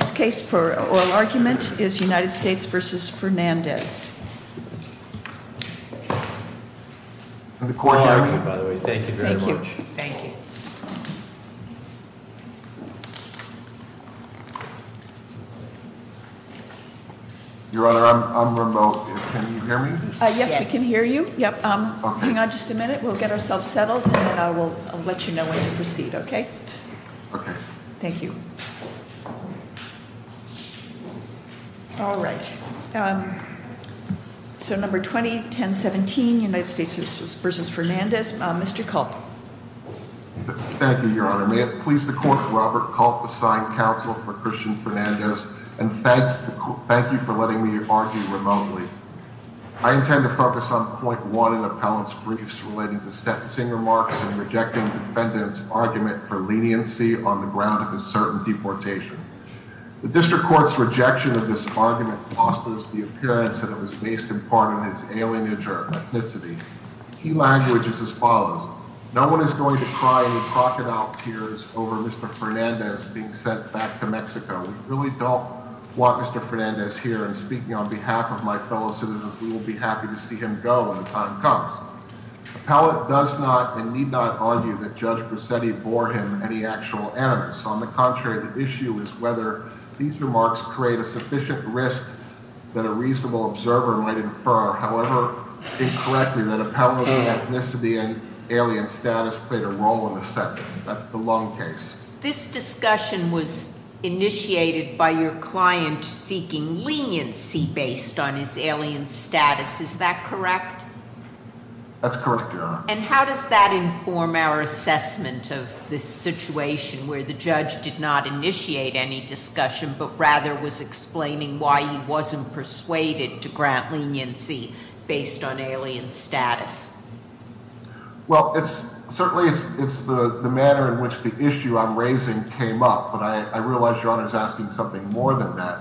The next case for oral argument is United States v. Fernandez. The court- All are good, by the way. Thank you very much. Thank you. Your Honor, I'm remote, can you hear me? Yes, we can hear you. Yep, hang on just a minute, we'll get ourselves settled, and I will let you know when to proceed, okay? Okay. Thank you. All right, so number 20, 1017, United States v. Fernandez, Mr. Kulp. Thank you, Your Honor. May it please the court, Robert Kulp, assigned counsel for Cristian Fernandez, and thank you for letting me argue remotely. I intend to focus on point one in the appellant's briefs relating to Stetson's remarks and rejecting the defendant's argument for leniency on the ground of a certain deportation. The district court's rejection of this argument fosters the appearance that it was based in part on his alienage or ethnicity. Key language is as follows. No one is going to cry crocodile tears over Mr. Fernandez being sent back to Mexico. We really don't want Mr. Fernandez here, and speaking on behalf of my fellow citizens, we will be happy to see him go when the time comes. Appellant does not, and need not, argue that Judge Bracetti bore him any actual animus. On the contrary, the issue is whether these remarks create a sufficient risk that a reasonable observer might infer. However, incorrectly, that appellant's ethnicity and alien status played a role in the sentence. That's the long case. This discussion was initiated by your client seeking leniency based on his alien status. Is that correct? That's correct, Your Honor. And how does that inform our assessment of this situation where the judge did not initiate any discussion, but rather was explaining why he wasn't persuaded to grant leniency based on alien status? Well, certainly it's the manner in which the issue I'm raising came up, but I realize Your Honor's asking something more than that.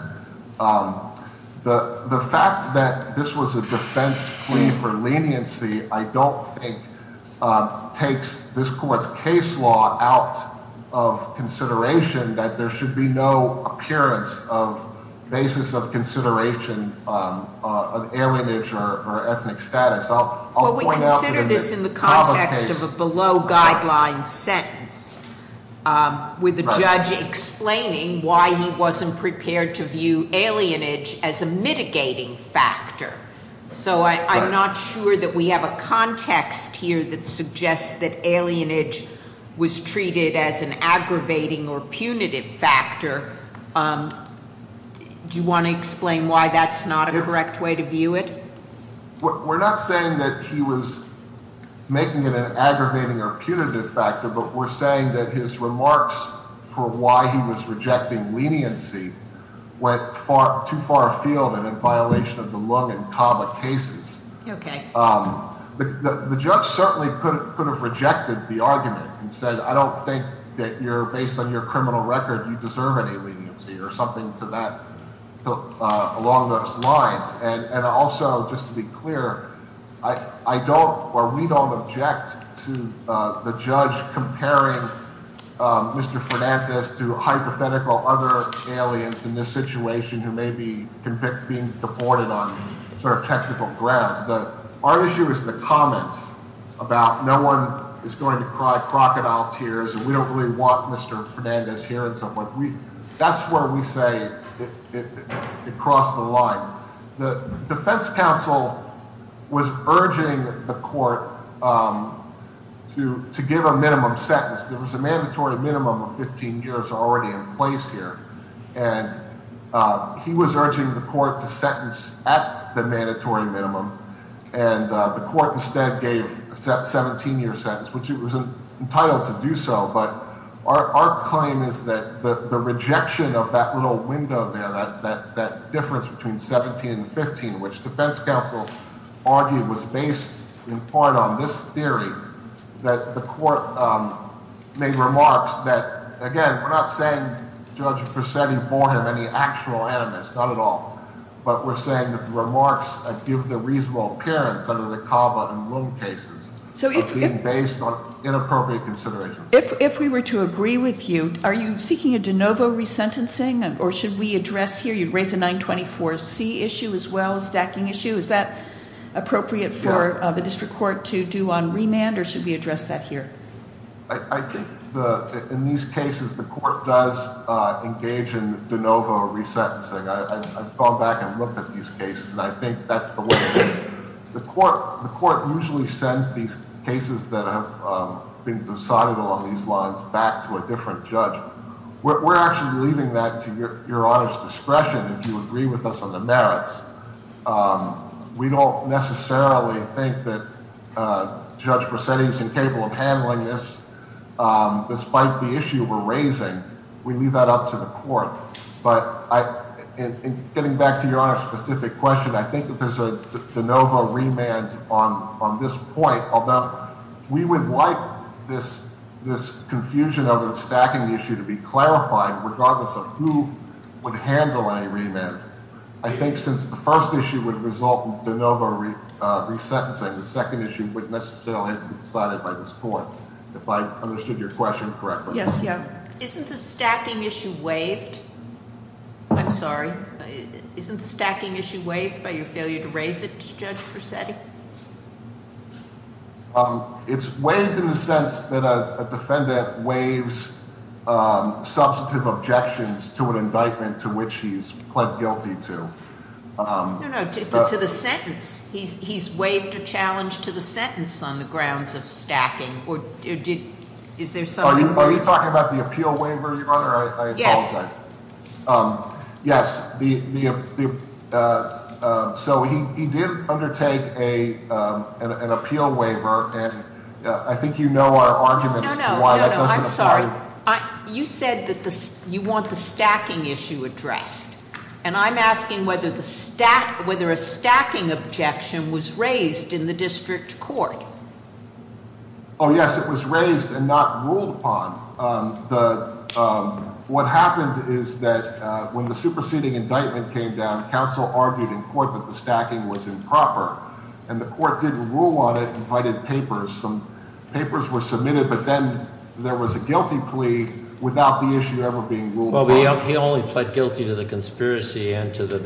The fact that this was a defense plea for leniency, I don't think, takes this court's case law out of consideration, that there should be no appearance of basis of consideration of alienage or ethnic status. I'll point out- Well, we consider this in the context of a below guideline sentence, with the judge explaining why he wasn't prepared to view alienage as a mitigating factor. So I'm not sure that we have a context here that suggests that alienage was treated as an aggravating or punitive factor. Do you want to explain why that's not a correct way to view it? We're not saying that he was making it an aggravating or punitive factor, but we're saying that his remarks for why he was rejecting leniency went too far afield and in violation of the Lung and Cava cases. Okay. The judge certainly could have rejected the argument and said, I don't think that you're based on your criminal record, you deserve any leniency or something to that, along those lines. And also, just to be clear, I don't, or we don't object to the judge comparing Mr. Fernandez to hypothetical other aliens in this situation, who may be being deported on sort of technical grounds. Our issue is the comments about no one is going to cry crocodile tears, and we don't really want Mr. Fernandez here and so forth. That's where we say it crossed the line. The defense counsel was urging the court to give a minimum sentence. There was a mandatory minimum of 15 years already in place here. And he was urging the court to sentence at the mandatory minimum. And the court instead gave a 17 year sentence, which it was entitled to do so. But our claim is that the rejection of that little window there, that difference between 17 and 15, which defense counsel argued was based in part on this theory. That the court made remarks that, again, we're not saying Judge Perseti bore him any actual animus, not at all. But we're saying that the remarks give the reasonable appearance under the Cava and Roon cases. So it's being based on inappropriate considerations. If we were to agree with you, are you seeking a de novo resentencing, or should we address here? You'd raise a 924C issue as well, a stacking issue. Is that appropriate for the district court to do on remand, or should we address that here? I think in these cases, the court does engage in de novo resentencing. I've gone back and looked at these cases, and I think that's the way it is. The court usually sends these cases that have been decided along these lines back to a different judge. We're actually leaving that to your Honor's discretion, if you agree with us on the merits. We don't necessarily think that Judge Persetti's incapable of handling this. Despite the issue we're raising, we leave that up to the court. But in getting back to your Honor's specific question, I think that there's a de novo remand on this point, although we would like this confusion of the stacking issue to be clarified, regardless of who would handle any remand. I think since the first issue would result in de novo resentencing, the second issue would necessarily have to be decided by this court. If I understood your question correctly. Yes, yeah. Isn't the stacking issue waived? I'm sorry. Isn't the stacking issue waived by your failure to raise it to Judge Persetti? It's waived in the sense that a defendant waives substantive objections to an indictment to which he's pled guilty to. No, no, to the sentence. He's waived a challenge to the sentence on the grounds of stacking. Or is there something- Are you talking about the appeal waiver, your Honor? I apologize. Yes, so he did undertake an appeal waiver. And I think you know our argument as to why that doesn't apply. You said that you want the stacking issue addressed. And I'm asking whether a stacking objection was raised in the district court. Yes, it was raised and not ruled upon. What happened is that when the superseding indictment came down, council argued in court that the stacking was improper. And the court didn't rule on it, invited papers. Some papers were submitted, but then there was a guilty plea without the issue ever being ruled upon. He only pled guilty to the conspiracy and to the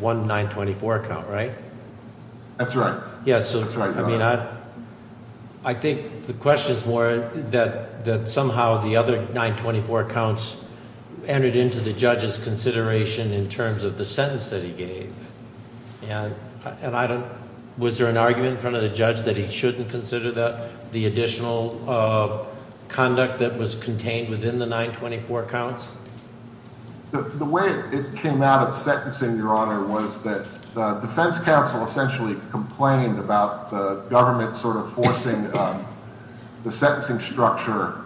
1-924 count, right? That's right. Yes, so I think the question is more that somehow the other 924 counts entered into the judge's consideration in terms of the sentence that he gave. And was there an argument in front of the judge that he shouldn't consider the additional conduct that was contained within the 924 counts? The way it came out at sentencing, your honor, was that the defense council essentially complained about the government sort of forcing the sentencing structure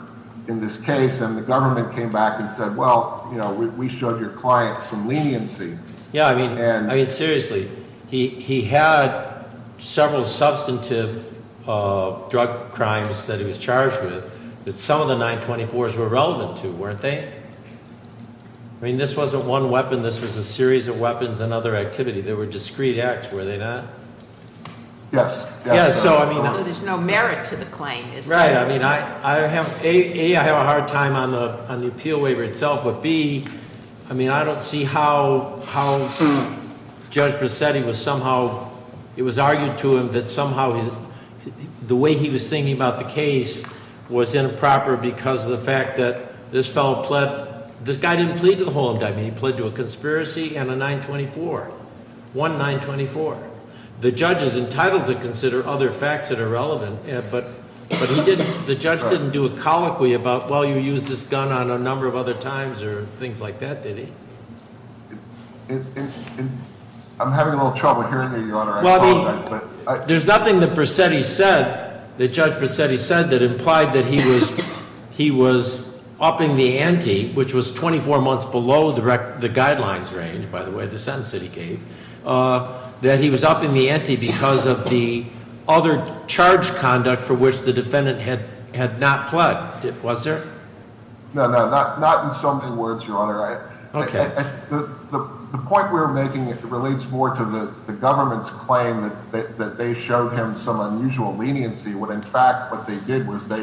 in this case. And the government came back and said, well, we showed your client some leniency. Yeah, I mean seriously, he had several substantive drug crimes that he was charged with that some of the 924s were relevant to, weren't they? I mean, this wasn't one weapon, this was a series of weapons and other activity. They were discreet acts, were they not? Yes. Yes, so I mean- So there's no merit to the claim, is there? Right, I mean, A, I have a hard time on the appeal waiver itself, but B, I mean, I don't see how Judge Bracetti was somehow, it was argued to him that somehow the way he was thinking about the case was improper because of the fact that this fellow pled, this guy didn't plead to the whole indictment. He pled to a conspiracy and a 924, one 924. The judge is entitled to consider other facts that are relevant, but he didn't, the judge didn't do a colloquy about, well, you used this gun on a number of other times or things like that, did he? I'm having a little trouble hearing you, your honor, I apologize, but- There's nothing that Bracetti said, that Judge Bracetti said that implied that he was upping the ante, which was 24 months below the guidelines range, by the way, the sentence that he gave. That he was upping the ante because of the other charge conduct for which the defendant had not pled, was there? No, no, not in so many words, your honor. Okay. The point we're making relates more to the government's claim that they showed him some unusual leniency, when in fact what they did was they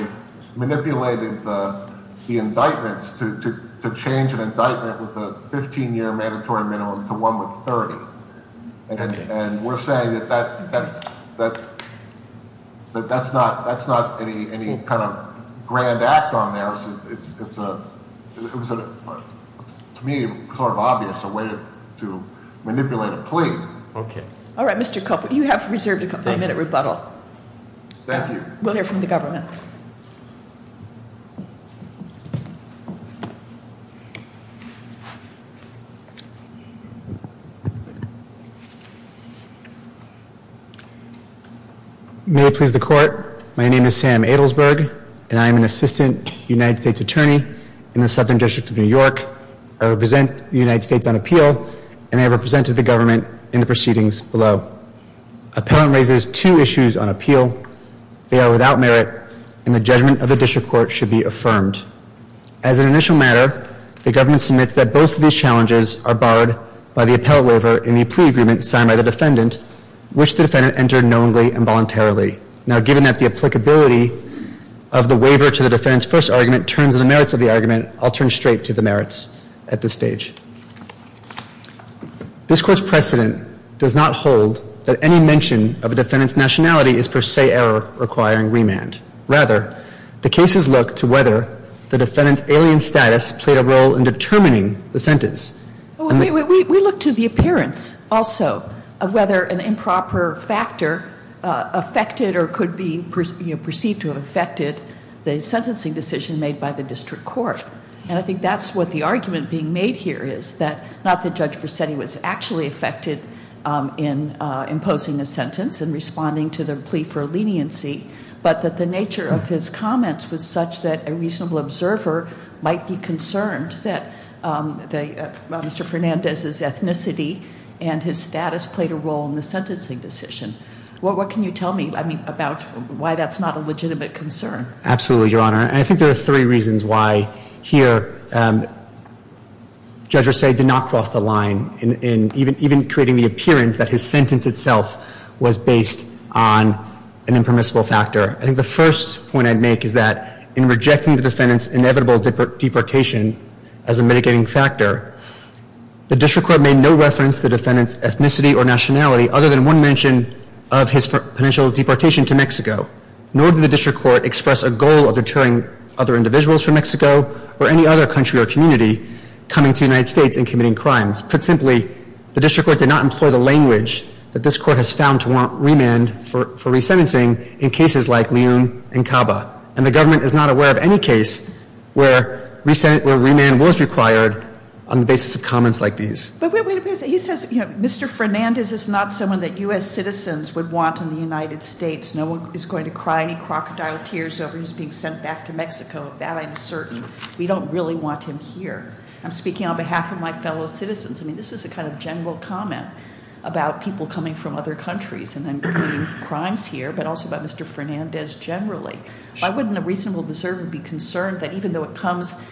manipulated the indictments to change an indictment with a 15 year mandatory minimum to one with 30. And we're saying that that's not any kind of grand act on theirs. It's a, to me, it's sort of obvious a way to manipulate a plea. Okay. All right, Mr. Cooper, you have reserved a couple of minute rebuttal. Thank you. We'll hear from the government. May it please the court. My name is Sam Adelsberg and I am an assistant United States attorney in the Southern District of New York. I represent the United States on appeal and I have represented the government in the proceedings below. Appellant raises two issues on appeal. They are without merit and the judgment of the district court should be affirmed. As an initial matter, the government submits that both of these challenges are barred by the appellate waiver and the plea agreement signed by the defendant, which the defendant entered knowingly and voluntarily. Now, given that the applicability of the waiver to the defendant's first argument turns to the merits of the argument, I'll turn straight to the merits at this stage. This court's precedent does not hold that any mention of a defendant's nationality is per se error requiring remand. Rather, the cases look to whether the defendant's alien status played a role in determining the sentence. We look to the appearance also of whether an improper factor affected or could be perceived to have affected the sentencing decision made by the district court. And I think that's what the argument being made here is, that not that Judge Presetti was actually affected in imposing a sentence and responding to the plea for leniency, but that the nature of his comments was such that a reasonable observer might be concerned that Mr. Fernandez's ethnicity and his status played a role in the sentencing decision. What can you tell me about why that's not a legitimate concern? Absolutely, Your Honor. And I think there are three reasons why here Judge Presetti did not cross the line, in even creating the appearance that his sentence itself was based on an impermissible factor. I think the first point I'd make is that in rejecting the defendant's inevitable deportation as a mitigating factor, the district court made no reference to the defendant's ethnicity or nationality other than one mention of his potential deportation to Mexico. Nor did the district court express a goal of deterring other individuals from Mexico or any other country or community coming to the United States and committing crimes. Put simply, the district court did not employ the language that this court has found to warrant remand for people like Leon and Caba, and the government is not aware of any case where remand was required on the basis of comments like these. But wait a minute, he says Mr. Fernandez is not someone that US citizens would want in the United States. No one is going to cry any crocodile tears over who's being sent back to Mexico. That I'm certain. We don't really want him here. I'm speaking on behalf of my fellow citizens. I mean, this is a kind of general comment about people coming from other countries and then committing crimes here, but also about Mr. Fernandez generally. Why wouldn't a reasonable observer be concerned that even though it comes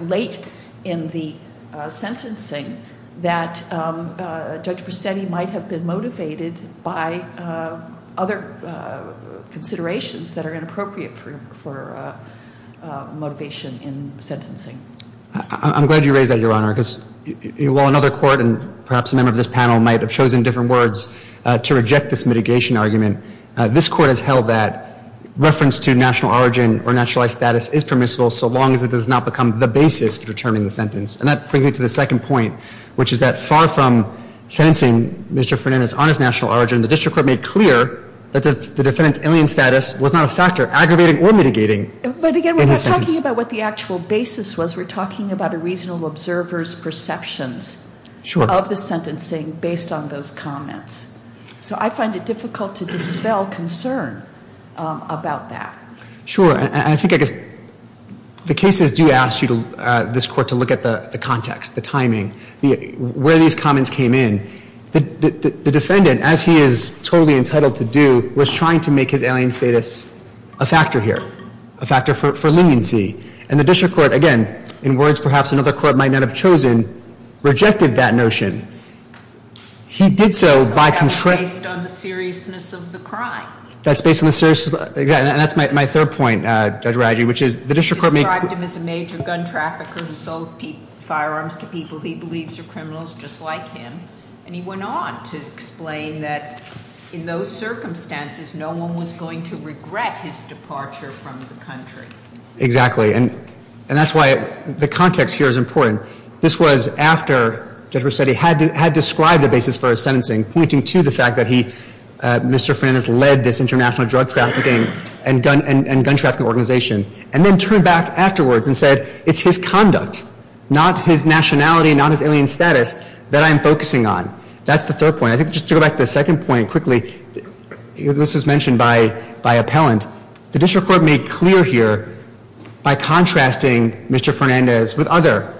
late in the sentencing, that Judge Brissetti might have been motivated by other considerations that are inappropriate for motivation in sentencing? I'm glad you raised that, Your Honor, because while another court and perhaps a member of this panel might have chosen different words to reject this mitigation argument. This court has held that reference to national origin or nationalized status is permissible so long as it does not become the basis for determining the sentence. And that brings me to the second point, which is that far from sentencing Mr. Fernandez on his national origin, the district court made clear that the defendant's alien status was not a factor, aggravating or mitigating. But again, we're not talking about what the actual basis was. We're talking about a reasonable observer's perceptions of the sentencing based on those comments. So I find it difficult to dispel concern about that. Sure, and I think I guess the cases do ask this court to look at the context, the timing, where these comments came in. The defendant, as he is totally entitled to do, was trying to make his alien status a factor here, a factor for leniency. And the district court, again, in words perhaps another court might not have chosen, rejected that notion. He did so by- Based on the seriousness of the crime. That's based on the seriousness, exactly, and that's my third point, Judge Radji, which is the district court may- As a major gun trafficker who sold firearms to people he believes are criminals just like him. And he went on to explain that in those circumstances, no one was going to regret his departure from the country. Exactly, and that's why the context here is important. This was after Judge Rossetti had described the basis for his sentencing, pointing to the fact that he, Mr. Fernandez, led this international drug trafficking and gun trafficking organization. And then turned back afterwards and said, it's his conduct, not his nationality, not his alien status, that I'm focusing on. That's the third point. I think just to go back to the second point quickly, this was mentioned by appellant. The district court made clear here by contrasting Mr. Fernandez with other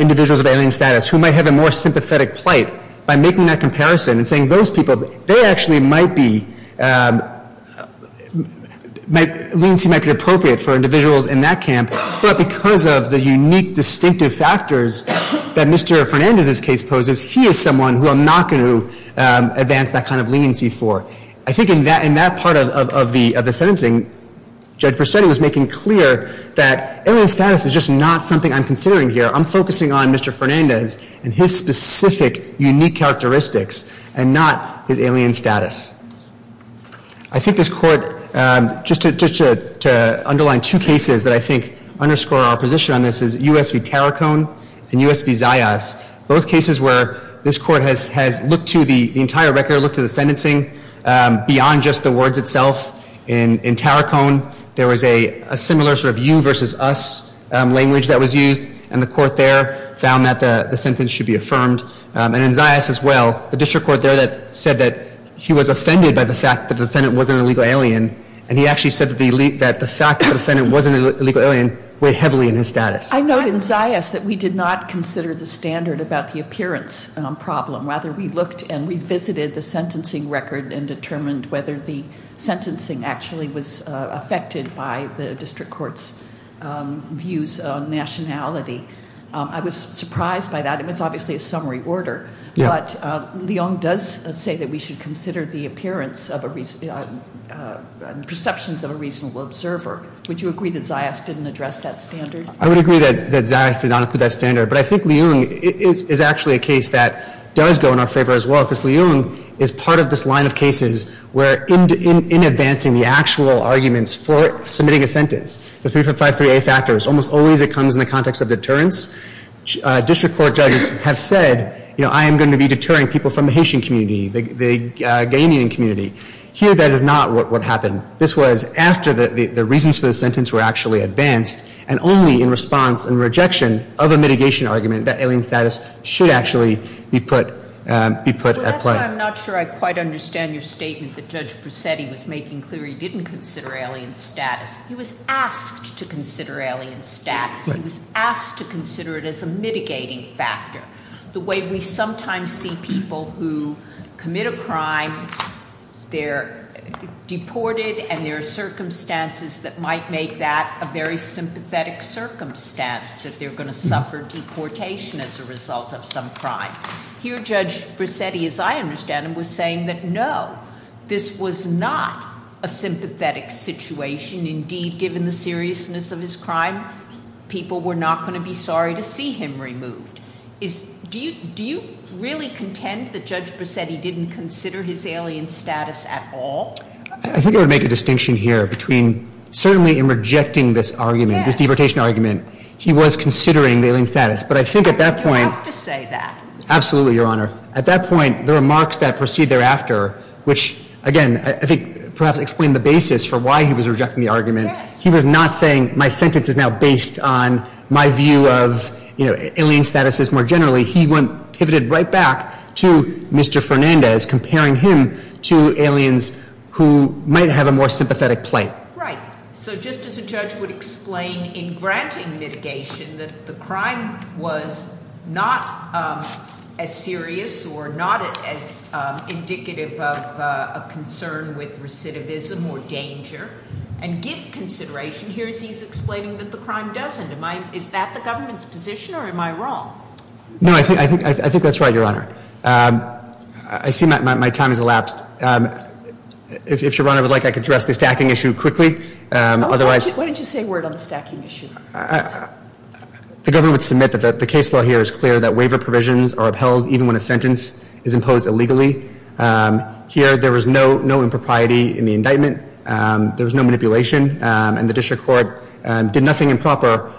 individuals of alien status who might have a more sympathetic plight. By making that comparison and saying those people, they actually might be, leniency might be appropriate for individuals in that camp. But because of the unique distinctive factors that Mr. Fernandez's case poses, he is someone who I'm not going to advance that kind of leniency for. I think in that part of the sentencing, Judge Rossetti was making clear that alien status is just not something I'm considering here. I'm focusing on Mr. Fernandez and his specific unique characteristics and not his alien status. I think this court, just to underline two cases that I think underscore our position on this is US v. Taracon and US v. Zayas. Both cases where this court has looked to the entire record, looked to the sentencing beyond just the words itself. In Taracon, there was a similar sort of you versus us language that was used. And the court there found that the sentence should be affirmed. And in Zayas as well, the district court there said that he was offended by the fact that the defendant wasn't an illegal alien. And he actually said that the fact that the defendant wasn't an illegal alien weighed heavily in his status. I note in Zayas that we did not consider the standard about the appearance problem. Rather, we looked and revisited the sentencing record and determined whether the sentencing actually was affected by the district court's views on nationality. I was surprised by that, and it's obviously a summary order. But Leung does say that we should consider the perceptions of a reasonable observer. Would you agree that Zayas didn't address that standard? I would agree that Zayas did not include that standard. But I think Leung is actually a case that does go in our favor as well. because Leung is part of this line of cases where in advancing the actual arguments for factors, almost always it comes in the context of deterrence. District court judges have said, I am going to be deterring people from the Haitian community, the Ghanian community. Here, that is not what happened. This was after the reasons for the sentence were actually advanced, and only in response and rejection of a mitigation argument that alien status should actually be put at play. Well, that's why I'm not sure I quite understand your statement that Judge Brissetti was making clear he didn't consider alien status. He was asked to consider alien status. He was asked to consider it as a mitigating factor. The way we sometimes see people who commit a crime, they're deported, and there are circumstances that might make that a very sympathetic circumstance, that they're going to suffer deportation as a result of some crime. Here, Judge Brissetti, as I understand him, was saying that no, this was not a sympathetic situation. Indeed, given the seriousness of his crime, people were not going to be sorry to see him removed. Do you really contend that Judge Brissetti didn't consider his alien status at all? I think I would make a distinction here between certainly in rejecting this argument, this deportation argument, he was considering the alien status. But I think at that point- You have to say that. Absolutely, Your Honor. At that point, the remarks that proceed thereafter, which again, I think perhaps explain the basis for why he was rejecting the argument. He was not saying my sentence is now based on my view of alien statuses more generally. He went, pivoted right back to Mr. Fernandez, comparing him to aliens who might have a more sympathetic plight. Right, so just as a judge would explain in granting mitigation that the crime was not as serious or not as indicative of a concern with recidivism or danger. And give consideration, here he's explaining that the crime doesn't. Is that the government's position, or am I wrong? No, I think that's right, Your Honor. I see my time has elapsed. If Your Honor would like, I could address the stacking issue quickly. Otherwise- Why don't you say a word on the stacking issue? The government would submit that the case law here is clear that waiver provisions are upheld even when a sentence is imposed illegally. Here, there was no impropriety in the indictment, there was no manipulation, and the district court did nothing improper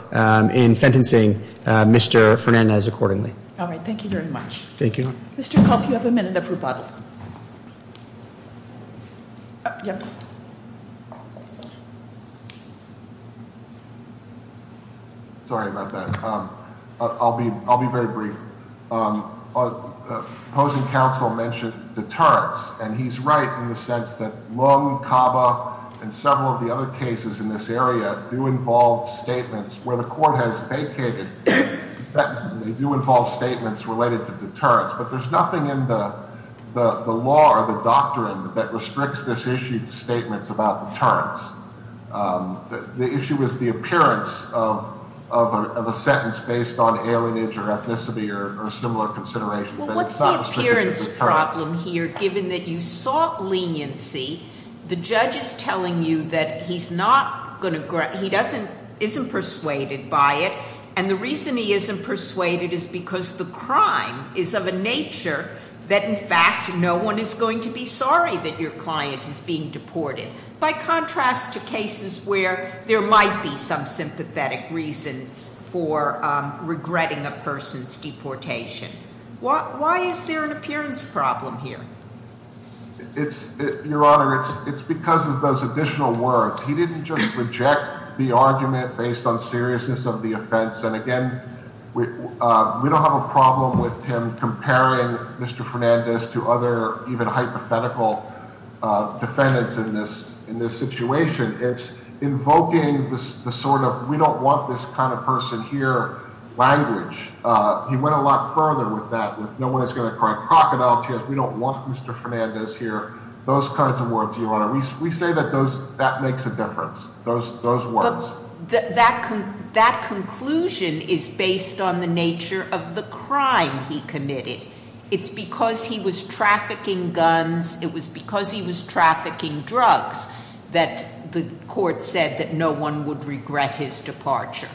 in sentencing Mr. Fernandez accordingly. All right, thank you very much. Thank you. Mr. Kulk, you have a minute of rebuttal. Yep. Sorry about that, I'll be very brief. Opposing counsel mentioned deterrence, and he's right in the sense that Lung, Caba, and several of the other cases in this area do involve statements where the court has vacated. They do involve statements related to deterrence, but there's nothing in the law or the doctrine that restricts this issue of statements about deterrence. The issue is the appearance of a sentence based on alienage or ethnicity or similar considerations. And it's not restricted to deterrence. Well, what's the appearance problem here, given that you sought leniency? The judge is telling you that he's not going to, he isn't persuaded by it. And the reason he isn't persuaded is because the crime is of a nature that, in fact, no one is going to be sorry that your client is being deported. By contrast to cases where there might be some sympathetic reasons for regretting a person's deportation, why is there an appearance problem here? It's, your honor, it's because of those additional words. He didn't just reject the argument based on seriousness of the offense. And again, we don't have a problem with him comparing Mr. Fernandez to other hypothetical defendants in this situation. It's invoking the sort of, we don't want this kind of person here, language. He went a lot further with that, with no one is going to cry crocodile tears, we don't want Mr. Fernandez here. Those kinds of words, your honor. We say that that makes a difference, those words. That conclusion is based on the nature of the crime he committed. It's because he was trafficking guns, it was because he was trafficking drugs, that the court said that no one would regret his departure.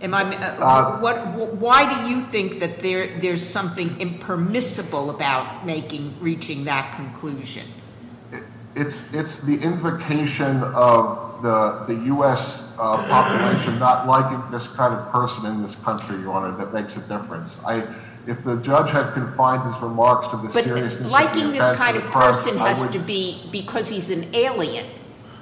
Why do you think that there's something impermissible about reaching that conclusion? It's the implication of the US population not liking this kind of person in this country, your honor, that makes a difference. If the judge had confined his remarks to the seriousness of the offense- But liking this kind of person has to be because he's an alien.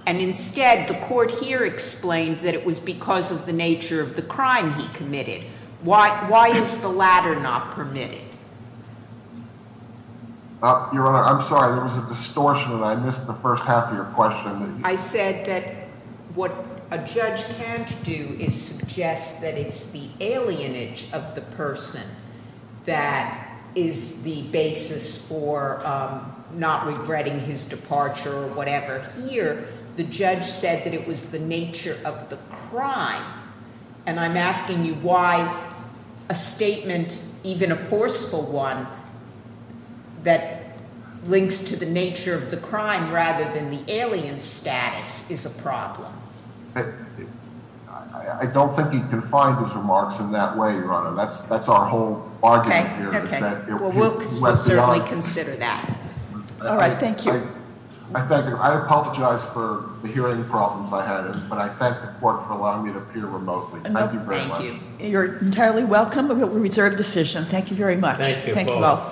And instead, the court here explained that it was because of the nature of the crime he committed. Why is the latter not permitted? Your honor, I'm sorry, there was a distortion and I missed the first half of your question. I said that what a judge can't do is suggest that it's the alienage of the person that is the basis for not regretting his departure or whatever. Here, the judge said that it was the nature of the crime. And I'm asking you why a statement, even a forceful one, That links to the nature of the crime rather than the alien status is a problem. I don't think he confined his remarks in that way, your honor. That's our whole argument here is that- Well, we'll certainly consider that. All right, thank you. I apologize for the hearing problems I had, but I thank the court for allowing me to appear remotely. Thank you very much. You're entirely welcome, but we reserve the decision. Thank you very much. Thank you both.